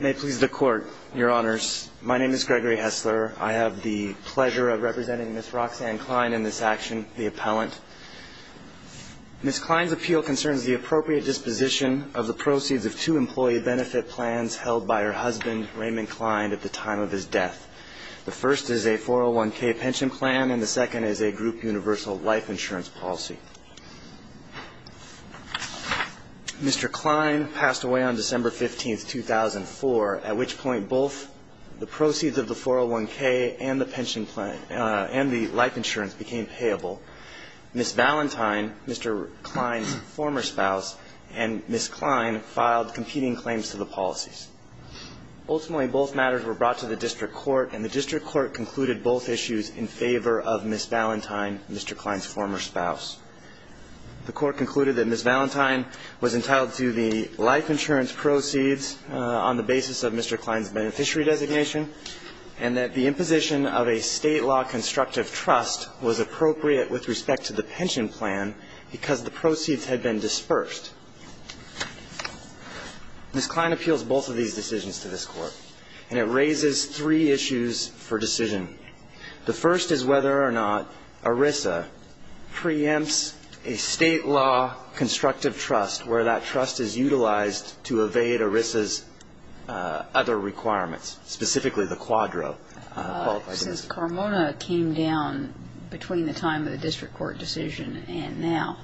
May it please the court, your honors. My name is Gregory Hessler. I have the pleasure of representing Ms. Roxanne Cline in this action, the appellant. Ms. Cline's appeal concerns the appropriate disposition of the proceeds of two employee benefit plans held by her husband, Raymond Cline, at the time of his death. The first is a 401k pension plan and the second is a group universal life insurance policy. Mr. Cline passed away on December 15, 2004, at which point both the proceeds of the 401k and the pension plan and the life insurance became payable. Ms. Valentine, Mr. Cline's former spouse, and Ms. Cline filed competing claims to the policies. Ultimately, both matters were brought to the district court and the district court concluded both issues in favor of Ms. Valentine, Mr. Cline's former spouse. The court concluded that Ms. Valentine was entitled to the life insurance proceeds on the basis of Mr. Cline's beneficiary designation and that the imposition of a state law constructive trust was appropriate with respect to the pension plan because the proceeds had been dispersed. Ms. Cline appeals both of these decisions to this court and it raises three issues for decision. The first is whether or not ERISA preempts a state law constructive trust where that trust is utilized to evade ERISA's other requirements, specifically the quadro qualified benefit. Since CARMONA came down between the time of the district court decision and now,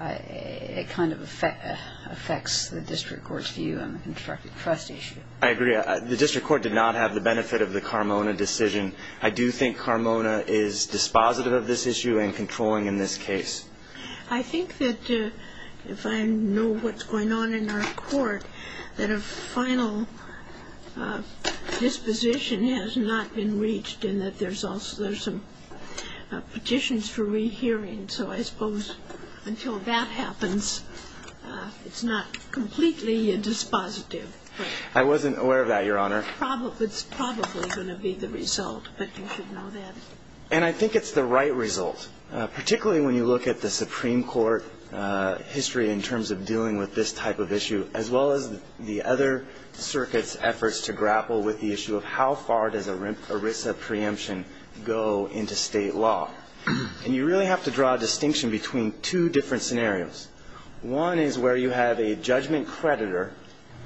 it kind of affects the district court's view on the constructive trust issue. I agree. The district court did not have the benefit of the CARMONA decision. I do think CARMONA is dispositive of this issue and controlling in this case. I think that if I know what's going on in our court, that a final disposition has not been reached and that there's some petitions for rehearing. So I suppose until that happens, it's not completely dispositive. I wasn't aware of that, Your Honor. It's probably going to be the result, but you should know that. And I think it's the right result, particularly when you look at the Supreme Court history in terms of dealing with this type of issue, as well as the other circuit's efforts to grapple with the issue of how far does an ERISA preemption go into state law. And you really have to draw a distinction between two different scenarios. One is where you have a judgment creditor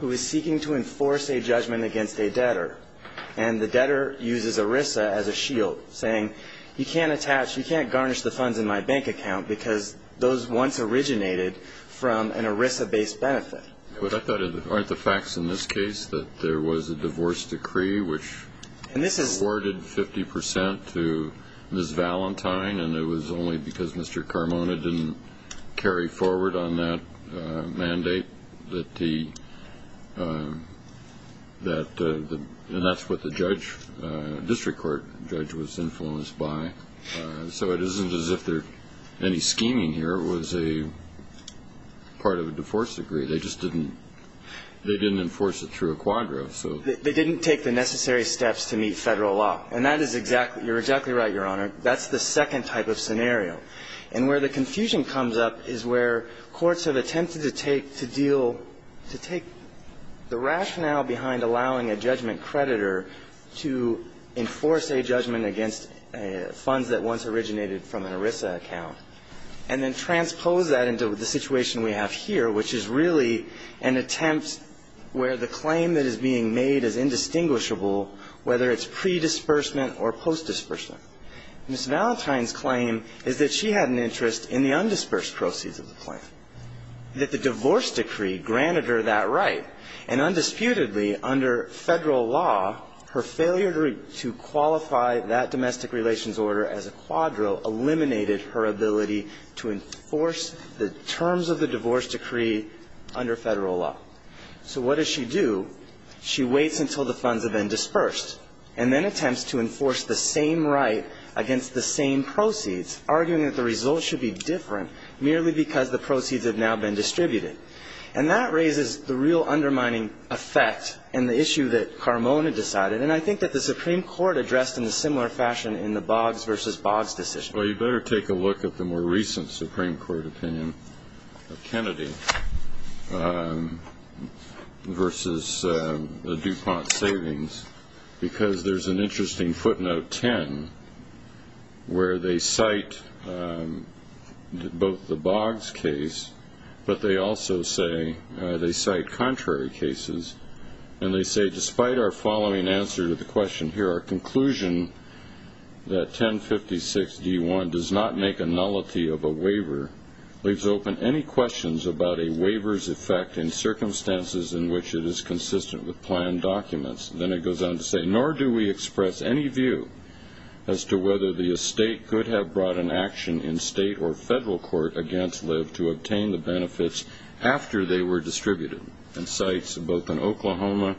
who is seeking to enforce a judgment against a debtor, and the debtor uses ERISA as a shield, saying you can't attach, you can't garnish the funds in my bank account because those once originated from an ERISA-based benefit. But I thought, aren't the facts in this case that there was a divorce decree which awarded 50 percent to Ms. Valentine and it was only because Mr. Carmona didn't carry forward on that mandate that the – and that's what the judge, district court judge, was influenced by. So it isn't as if there's any scheming here. It was a part of a divorce decree. They just didn't – they didn't enforce it through a quadro, so. They didn't take the necessary steps to meet Federal law. And that is exactly – you're exactly right, Your Honor. That's the second type of scenario. And where the confusion comes up is where courts have attempted to take – to deal – to take the rationale behind allowing a judgment creditor to enforce a judgment against funds that once originated from an ERISA account and then transpose that into the situation we have here, which is really an attempt where the claim that is being made is indistinguishable, whether it's pre-disbursement or post-disbursement. Ms. Valentine's claim is that she had an interest in the undisbursed proceeds of the plan, that the divorce decree granted her that right. And undisputedly, under Federal law, her failure to qualify that domestic relations order as a quadro eliminated her ability to enforce the terms of the divorce decree under Federal law. So what does she do? She waits until the funds have been dispersed and then attempts to enforce the same right against the same proceeds, arguing that the results should be different merely because the proceeds have now been distributed. And that raises the real undermining effect in the issue that Carmona decided, and I think that the Supreme Court addressed in a similar fashion in the Boggs v. Boggs decision. Well, you better take a look at the more recent Supreme Court opinion of Kennedy versus the DuPont savings because there's an interesting footnote 10 where they cite both the Boggs case, but they also say they cite contrary cases. And they say, despite our following answer to the question here, our conclusion that 1056-D1 does not make a nullity of a waiver leaves open any questions about a waiver's effect in circumstances in which it is consistent with planned documents. Then it goes on to say, nor do we express any view as to whether the estate could have brought an action in state or Federal court against Liv to obtain the benefits after they were distributed. It cites both an Oklahoma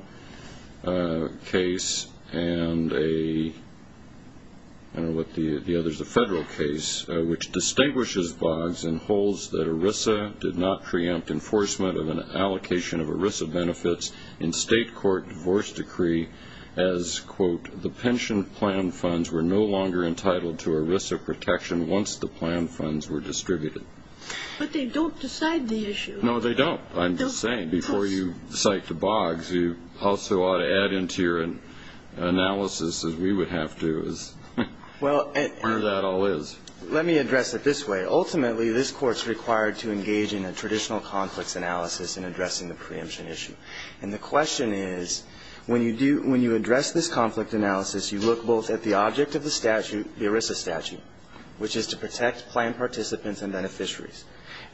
case and a Federal case which distinguishes Boggs and holds that ERISA did not preempt enforcement of an allocation of ERISA benefits in state court divorce decree as, quote, the pension plan funds were no longer entitled to ERISA protection once the plan funds were distributed. But they don't decide the issue. No, they don't. I'm just saying, before you cite the Boggs, you also ought to add into your analysis, as we would have to, as part of that all is. Let me address it this way. Ultimately, this Court's required to engage in a traditional conflicts analysis in addressing the preemption issue. And the question is, when you address this conflict analysis, you look both at the object of the statute, the ERISA statute, which is to protect planned participants and beneficiaries.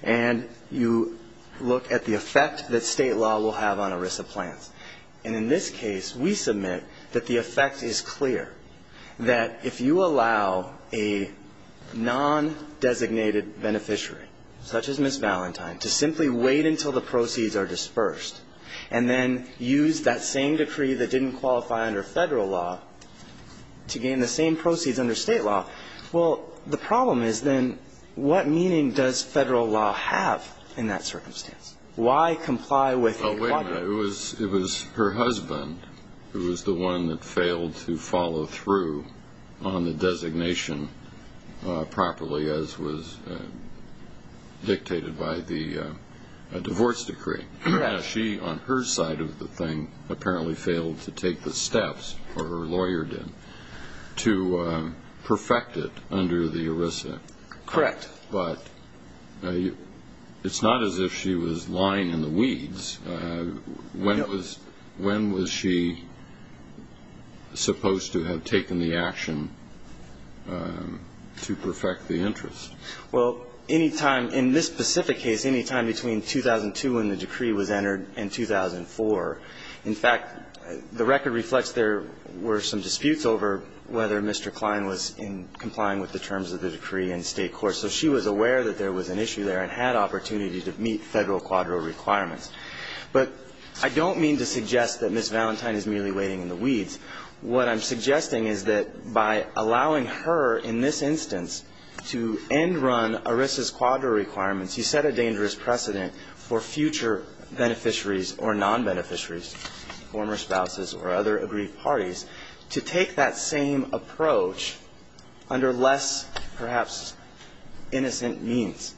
And you look at the effect that state law will have on ERISA plans. And in this case, we submit that the effect is clear, that if you allow a non-designated beneficiary, such as Ms. Valentine, to simply wait until the proceeds are dispersed and then use that same decree that didn't qualify under Federal law to gain the same proceeds under state law, well, the problem is, then, what meaning does Federal law have in that circumstance? Why comply with a quadruple? Well, wait a minute. It was her husband who was the one that failed to follow through on the designation properly as was dictated by the divorce decree. She, on her side of the thing, apparently failed to take the steps, or her lawyer did, to perfect it under the ERISA. Correct. But it's not as if she was lying in the weeds. When was she supposed to have taken the action to perfect the interest? Well, any time in this specific case, any time between 2002 when the decree was entered and 2004. In fact, the record reflects there were some disputes over whether Mr. Klein was in complying with the terms of the decree in state court. So she was aware that there was an issue there and had opportunity to meet Federal quadro requirements. But I don't mean to suggest that Ms. Valentine is merely waiting in the weeds. What I'm suggesting is that by allowing her, in this instance, to end-run ERISA's quadro requirements, you set a dangerous precedent for future beneficiaries or non-beneficiaries, former spouses or other aggrieved parties, to take that same approach under less, perhaps, innocent means.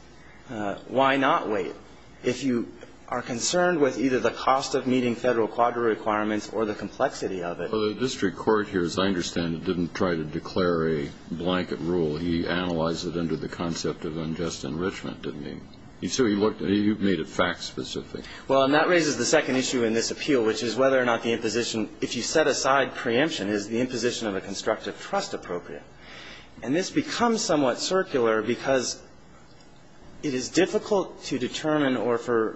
Why not wait if you are concerned with either the cost of meeting Federal quadro requirements or the complexity of it? Well, the district court here, as I understand it, didn't try to declare a blanket rule. He analyzed it under the concept of unjust enrichment, didn't he? So you've made it fact-specific. Well, and that raises the second issue in this appeal, which is whether or not the imposition, if you set aside preemption, is the imposition of a constructive trust appropriate. And this becomes somewhat circular because it is difficult to determine or for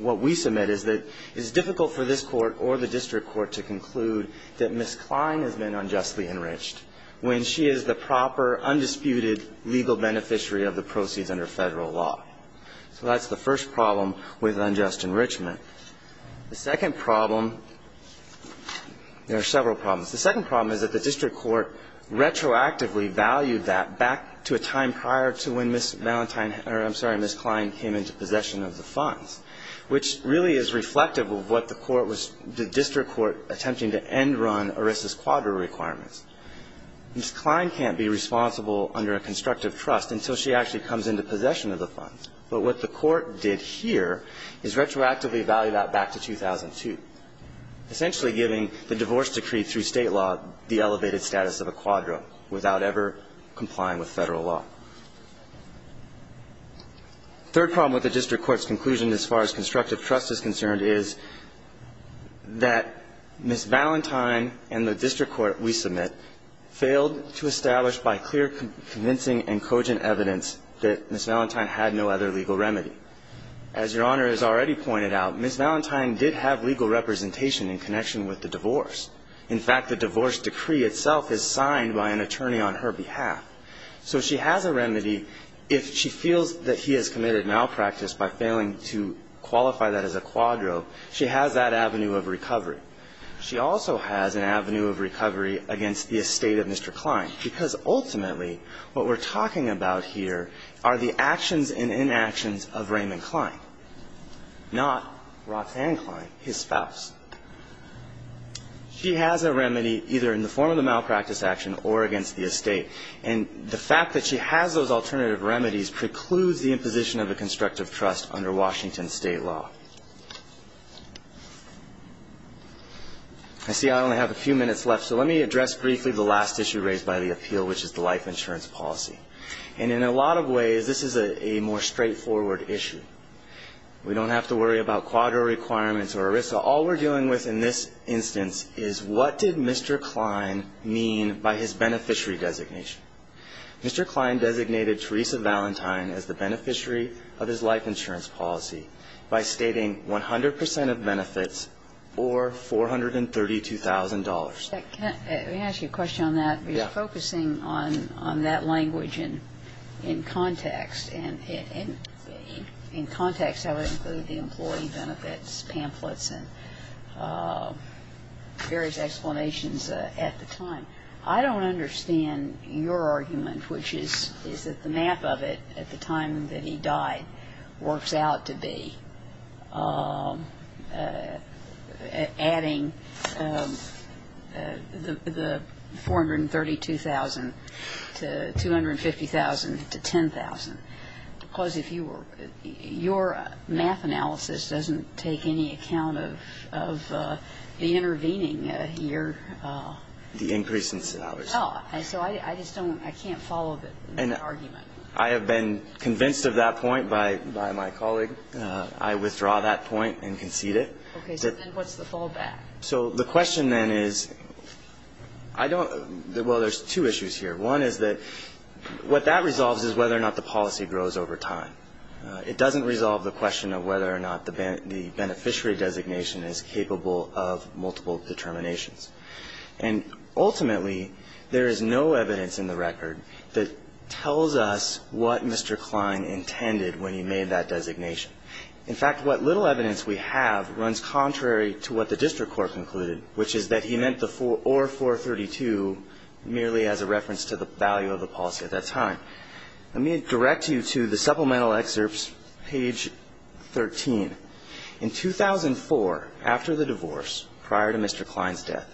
what we submit is that it's difficult for this Court or the district court to conclude that Ms. Klein has been unjustly enriched when she is the proper, undisputed legal beneficiary of the proceeds under Federal law. So that's the first problem with unjust enrichment. The second problem, there are several problems. The second problem is that the district court retroactively valued that back to a time prior to when Ms. Klein came into possession of the funds, which really is reflective of what the court was, the district court attempting to end-run ERISA's quadro requirements. Ms. Klein can't be responsible under a constructive trust until she actually comes into possession of the funds. But what the court did here is retroactively value that back to 2002, essentially giving the divorce decree through State law the elevated status of a quadro without ever complying with Federal law. The third problem with the district court's conclusion as far as constructive trust is concerned is that Ms. Ballantyne and the district court we submit failed to establish by clear convincing and cogent evidence that Ms. Ballantyne had no other legal remedy. As Your Honor has already pointed out, Ms. Ballantyne did have legal representation in connection with the divorce. In fact, the divorce decree itself is signed by an attorney on her behalf. So she has a remedy if she feels that he has committed malpractice by failing to qualify that as a quadro. She has that avenue of recovery. She also has an avenue of recovery against the estate of Mr. Klein, because ultimately what we're talking about here are the actions and inactions of Raymond Klein, not Roxanne Klein, his spouse. She has a remedy either in the form of the malpractice action or against the estate. And the fact that she has those alternative remedies precludes the imposition of a constructive trust under Washington State law. I see I only have a few minutes left, so let me address briefly the last issue raised by the appeal, which is the life insurance policy. And in a lot of ways, this is a more straightforward issue. We don't have to worry about quadro requirements or ERISA. All we're dealing with in this instance is what did Mr. Klein mean by his beneficiary designation. Mr. Klein designated Teresa Ballantyne as the beneficiary of his life insurance policy by stating 100 percent of benefits or $432,000. Let me ask you a question on that. Yeah. You're focusing on that language in context. And in context, I would include the employee benefits pamphlets and various explanations at the time. I don't understand your argument, which is that the map of it at the time that he died works out to be adding the $432,000 to $250,000 to $10,000. To close, if you were, your math analysis doesn't take any account of the intervening here. The increase in salaries. So I just don't, I can't follow the argument. I have been convinced of that point by my colleague. I withdraw that point and concede it. Okay. So then what's the fallback? So the question then is, I don't, well, there's two issues here. One is that what that resolves is whether or not the policy grows over time. It doesn't resolve the question of whether or not the beneficiary designation is capable of multiple determinations. And ultimately, there is no evidence in the record that tells us what Mr. Klein intended when he made that designation. In fact, what little evidence we have runs contrary to what the district court concluded, which is that he meant the or $432,000 merely as a reference to the value of the policy at that time. Let me direct you to the supplemental excerpts, page 13. In 2004, after the divorce, prior to Mr. Klein's death,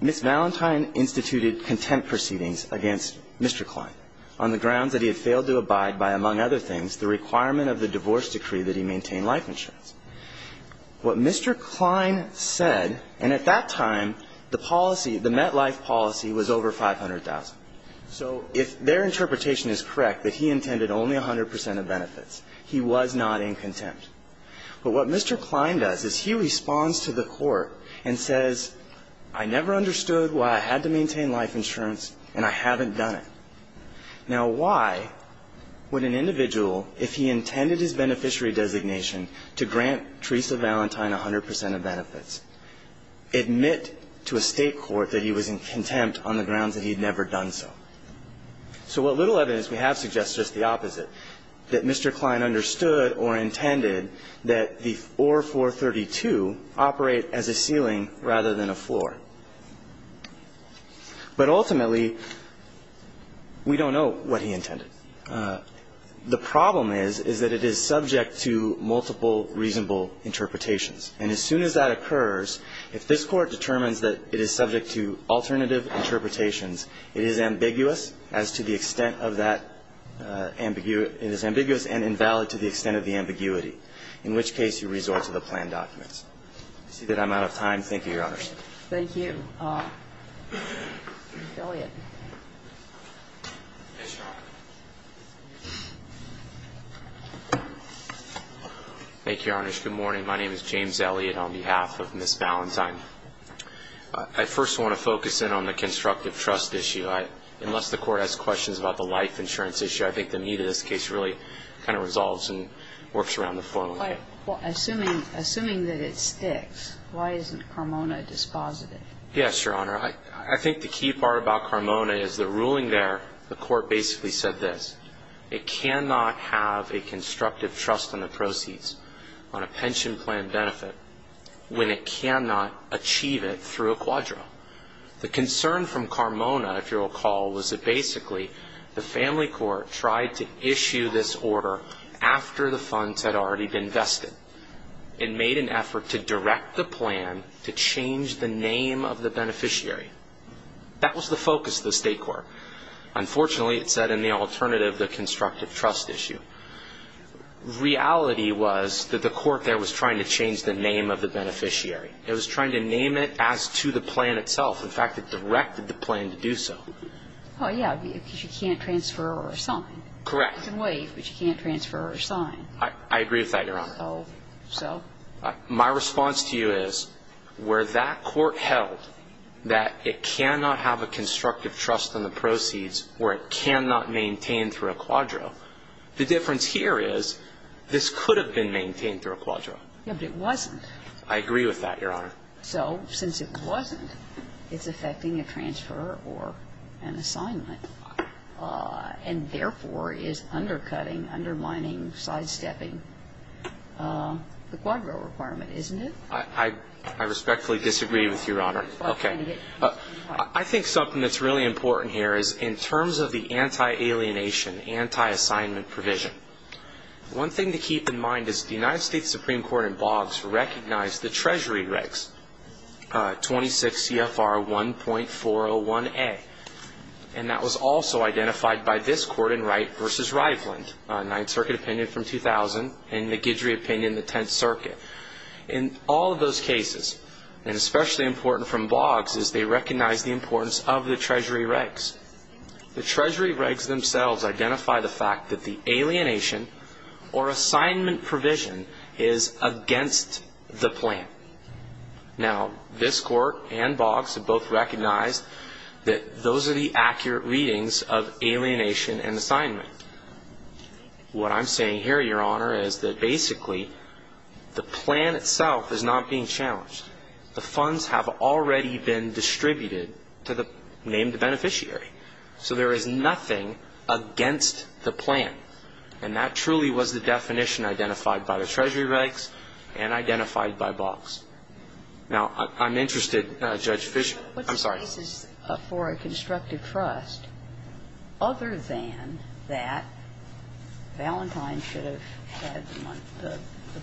Ms. Valentine instituted contempt proceedings against Mr. Klein on the grounds that he had failed to abide by, among other things, the requirement of the divorce decree that he maintain life insurance. What Mr. Klein said, and at that time, the policy, the MetLife policy, was over $500,000. So if their interpretation is correct, that he intended only 100 percent of benefits, he was not in contempt. But what Mr. Klein does is he responds to the court and says, I never understood why I had to maintain life insurance, and I haven't done it. Now, why would an individual, if he intended his beneficiary designation to grant Teresa Valentine 100 percent of benefits, admit to a State court that he was in contempt on the grounds that he had never done so? So what little evidence we have suggests is just the opposite, that Mr. Klein understood or intended that the 4432 operate as a ceiling rather than a floor. But ultimately, we don't know what he intended. The problem is, is that it is subject to multiple reasonable interpretations. And as soon as that occurs, if this Court determines that it is subject to alternative interpretations, it is ambiguous as to the extent of that ambiguity. It is ambiguous and invalid to the extent of the ambiguity, in which case you resort to the planned documents. I see that I'm out of time. Thank you, Your Honors. Thank you. James Elliott. Thank you, Your Honors. Good morning. My name is James Elliott on behalf of Ms. Valentine. I first want to focus in on the constructive trust issue. Unless the Court has questions about the life insurance issue, I think the meat of this case really kind of resolves and works around the phone. Well, assuming that it sticks, why isn't Carmona dispositive? Yes, Your Honor. I think the key part about Carmona is the ruling there. The Court basically said this. It cannot have a constructive trust in the proceeds on a pension plan benefit when it cannot achieve it through a quadro. The concern from Carmona, if you'll recall, was that basically the Family Court tried to issue this order after the funds had already been vested. It made an effort to direct the plan to change the name of the beneficiary. That was the focus of the State Court. Unfortunately, it said in the alternative, the constructive trust issue. Reality was that the Court there was trying to change the name of the beneficiary. It was trying to name it as to the plan itself. In fact, it directed the plan to do so. Oh, yes, because you can't transfer or assign. Correct. You can waive, but you can't transfer or assign. I agree with that, Your Honor. So? My response to you is where that Court held that it cannot have a constructive trust in the proceeds or it cannot maintain through a quadro. The difference here is this could have been maintained through a quadro. Yes, but it wasn't. I agree with that, Your Honor. So since it wasn't, it's affecting a transfer or an assignment and, therefore, is undercutting, undermining, sidestepping the quadro requirement, isn't it? I respectfully disagree with Your Honor. Okay. I think something that's really important here is in terms of the anti-alienation, anti-assignment provision, one thing to keep in mind is the United States Supreme Court in Boggs recognized the Treasury regs, 26 CFR 1.401A, and that was also identified by this Court in Wright v. Riveland, Ninth Circuit opinion from 2000 and the Guidry opinion, the Tenth Circuit. In all of those cases, and especially important from Boggs is they recognize the importance of the Treasury regs. The Treasury regs themselves identify the fact that the alienation or assignment provision is against the plan. Now, this Court and Boggs have both recognized that those are the accurate readings of alienation and assignment. What I'm saying here, Your Honor, is that basically the plan itself is not being challenged. The funds have already been distributed to the named beneficiary. So there is nothing against the plan. And that truly was the definition identified by the Treasury regs and identified by Boggs. Now, I'm interested, Judge Fisher. I'm sorry. What's the basis for a constructive trust other than that Valentine should have had the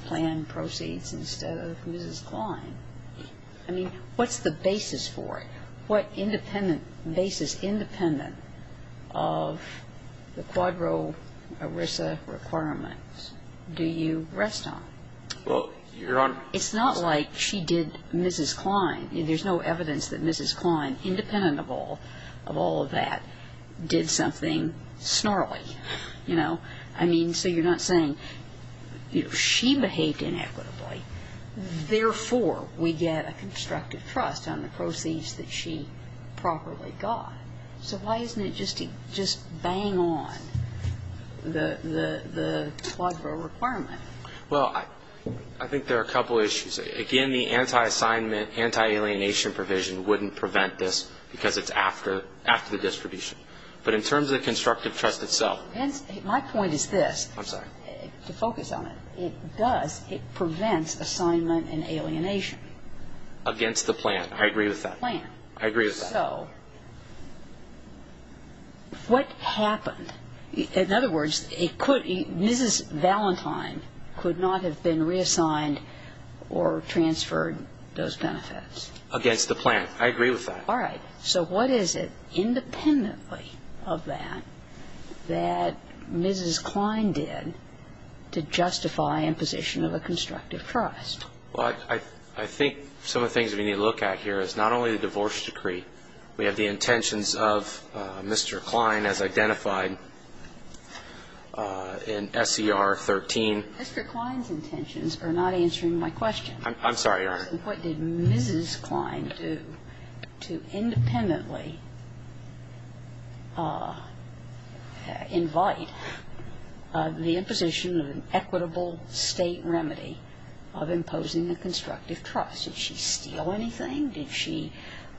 plan proceeds instead of Mrs. Klein? I mean, what's the basis for it? What independent basis, independent of the Quadro ERISA requirements, do you rest on? Well, Your Honor. It's not like she did Mrs. Klein. There's no evidence that Mrs. Klein, independent of all of that, did something snarly. You know? I mean, so you're not saying, you know, she behaved inequitably. Therefore, we get a constructive trust on the proceeds that she properly got. So why isn't it just to bang on the Quadro requirement? Well, I think there are a couple issues. Again, the anti-assignment, anti-alienation provision wouldn't prevent this because it's after the distribution. But in terms of the constructive trust itself. My point is this. I'm sorry. To focus on it. It does. It prevents assignment and alienation. Against the plan. I agree with that. The plan. I agree with that. So what happened? In other words, Mrs. Valentine could not have been reassigned or transferred those benefits. Against the plan. I agree with that. All right. So what is it, independently of that, that Mrs. Klein did to justify imposition of a constructive trust? Well, I think some of the things we need to look at here is not only the divorce decree. We have the intentions of Mr. Klein as identified in SCR 13. Mr. Klein's intentions are not answering my question. I'm sorry, Your Honor. What did Mrs. Klein do to independently invite the imposition of an equitable State remedy of imposing a constructive trust? Did she steal anything? Did she,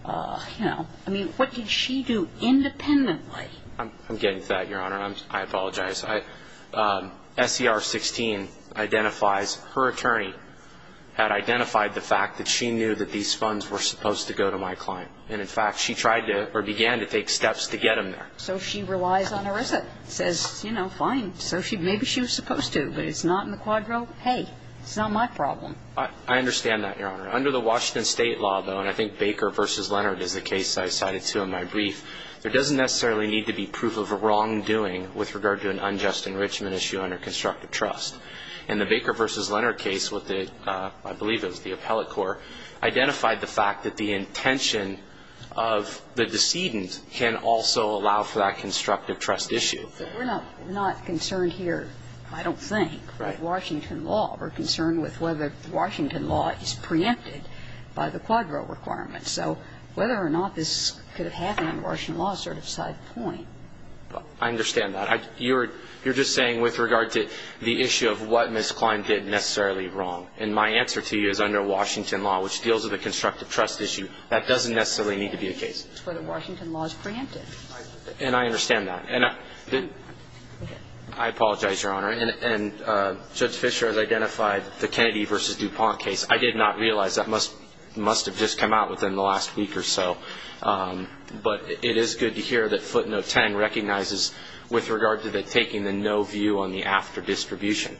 you know, I mean, what did she do independently? I'm getting to that, Your Honor. I apologize. SCR 16 identifies her attorney had identified the fact that she knew that these funds were supposed to go to my client. And, in fact, she tried to or began to take steps to get them there. So she relies on ERISA. Says, you know, fine. Maybe she was supposed to, but it's not in the quadro. Hey, it's not my problem. I understand that, Your Honor. Under the Washington State law, though, and I think Baker v. Leonard is the case I cited to in my brief, there doesn't necessarily need to be proof of a wrongdoing with regard to an unjust enrichment issue under constructive trust. In the Baker v. Leonard case, I believe it was the appellate court, identified the fact that the intention of the decedent can also allow for that constructive trust issue. We're not concerned here, I don't think, with Washington law. We're concerned with whether Washington law is preempted by the quadro requirements. So whether or not this could have happened under Washington law is sort of a side point. I understand that. You're just saying with regard to the issue of what Ms. Klein did necessarily wrong. And my answer to you is under Washington law, which deals with a constructive trust issue, that doesn't necessarily need to be the case. It's whether Washington law is preempted. And I understand that. And I apologize, Your Honor. And Judge Fischer has identified the Kennedy v. DuPont case. I did not realize that. It must have just come out within the last week or so. But it is good to hear that footnote 10 recognizes with regard to taking the no view on the after distribution.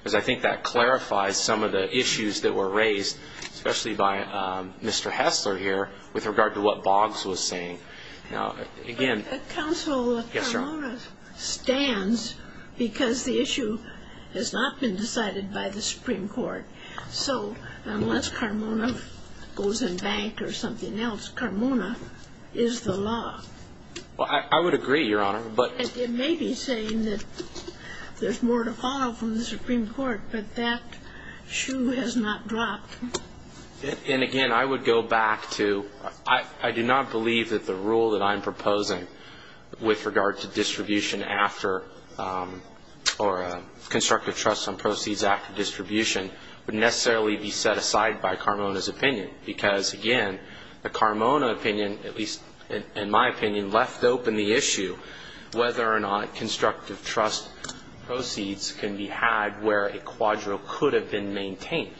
Because I think that clarifies some of the issues that were raised, especially by Mr. Hessler here, with regard to what Boggs was saying. Counsel, Carmona stands because the issue has not been decided by the Supreme Court. So unless Carmona goes in bank or something else, Carmona is the law. Well, I would agree, Your Honor. It may be saying that there's more to follow from the Supreme Court. But that shoe has not dropped. And, again, I would go back to I do not believe that the rule that I'm proposing with regard to distribution after or constructive trust on proceeds after distribution would necessarily be set aside by Carmona's opinion. Because, again, the Carmona opinion, at least in my opinion, left open the issue whether or not constructive trust proceeds can be had where a quadro could have been maintained.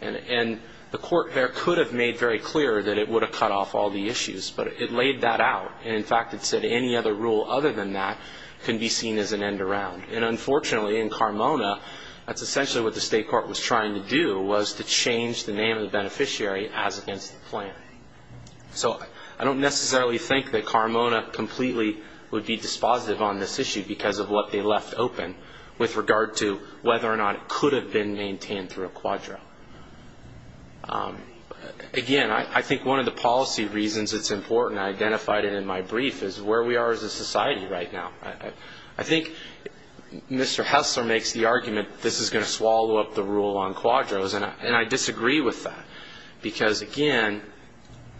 And the court there could have made very clear that it would have cut off all the issues. But it laid that out. And, in fact, it said any other rule other than that can be seen as an end around. And, unfortunately, in Carmona, that's essentially what the state court was trying to do was to change the name of the beneficiary as against the plan. So I don't necessarily think that Carmona completely would be dispositive on this issue because of what they left open with regard to whether or not it Again, I think one of the policy reasons it's important, I identified it in my brief, is where we are as a society right now. I think Mr. Hessler makes the argument this is going to swallow up the rule on quadros. And I disagree with that because, again,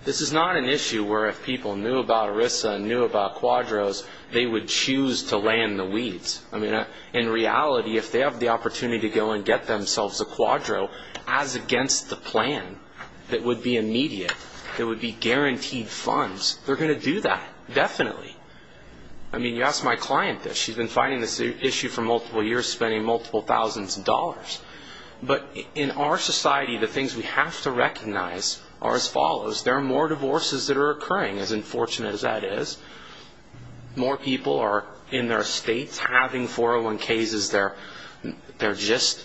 this is not an issue where if people knew about ERISA and knew about quadros, they would choose to land the weeds. I mean, in reality, if they have the opportunity to go and get themselves a plan as against the plan that would be immediate, that would be guaranteed funds, they're going to do that, definitely. I mean, you ask my client this. She's been fighting this issue for multiple years, spending multiple thousands of dollars. But in our society, the things we have to recognize are as follows. There are more divorces that are occurring, as unfortunate as that is. More people are in their estates having 401ks. This is their gist.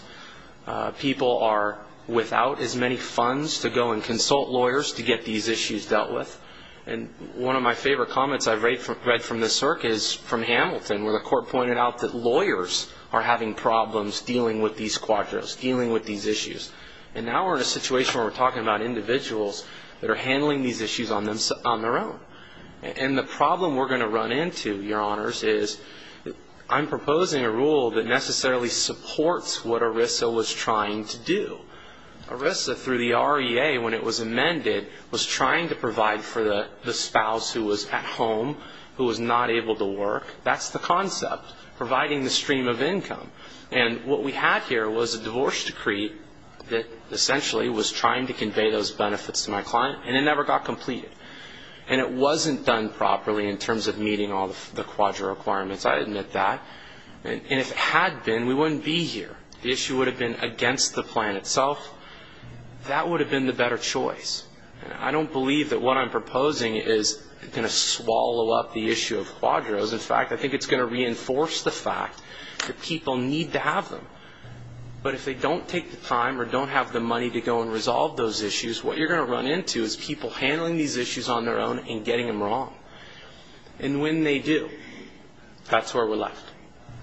People are without as many funds to go and consult lawyers to get these issues dealt with. And one of my favorite comments I've read from this circuit is from Hamilton, where the court pointed out that lawyers are having problems dealing with these quadros, dealing with these issues. And now we're in a situation where we're talking about individuals that are handling these issues on their own. And the problem we're going to run into, Your Honors, is I'm proposing a rule that necessarily supports what ERISA was trying to do. ERISA, through the REA, when it was amended, was trying to provide for the spouse who was at home, who was not able to work. That's the concept, providing the stream of income. And what we had here was a divorce decree that essentially was trying to convey those benefits to my client, and it never got completed. And it wasn't done properly in terms of meeting all the quadro requirements. I admit that. And if it had been, we wouldn't be here. The issue would have been against the plan itself. That would have been the better choice. I don't believe that what I'm proposing is going to swallow up the issue of quadros. In fact, I think it's going to reinforce the fact that people need to have them. But if they don't take the time or don't have the money to go and resolve those issues, what you're going to run into is people handling these issues on their own and getting them wrong. And when they do, that's where we're left.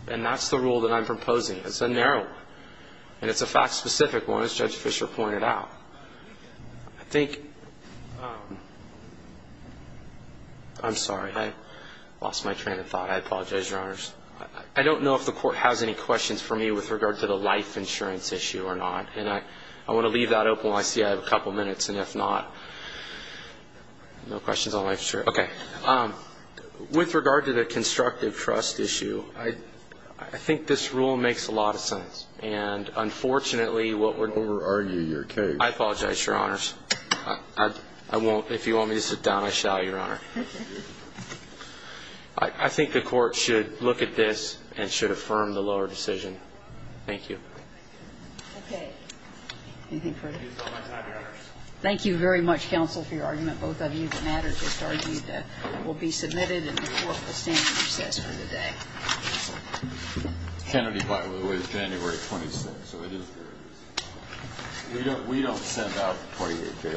And that's the rule that I'm proposing. It's a narrow one. And it's a fact-specific one, as Judge Fischer pointed out. I think ‑‑ I'm sorry. I lost my train of thought. I apologize, Your Honors. I don't know if the Court has any questions for me with regard to the life insurance issue or not. And I want to leave that open while I see I have a couple minutes. And if not, no questions on life insurance. Okay. With regard to the constructive trust issue, I think this rule makes a lot of sense. And unfortunately, what we're ‑‑ Don't over-argue your case. I apologize, Your Honors. I won't. If you want me to sit down, I shall, Your Honor. I think the Court should look at this and should affirm the lower decision. Thank you. Okay. Anything further? Thank you very much, counsel, for your argument. Both of you that mattered just argued that it will be submitted and the Court will stand as it says for the day. Kennedy filed it away January 26th, so it is very easy. We don't send out 28‑day letters. Thanks.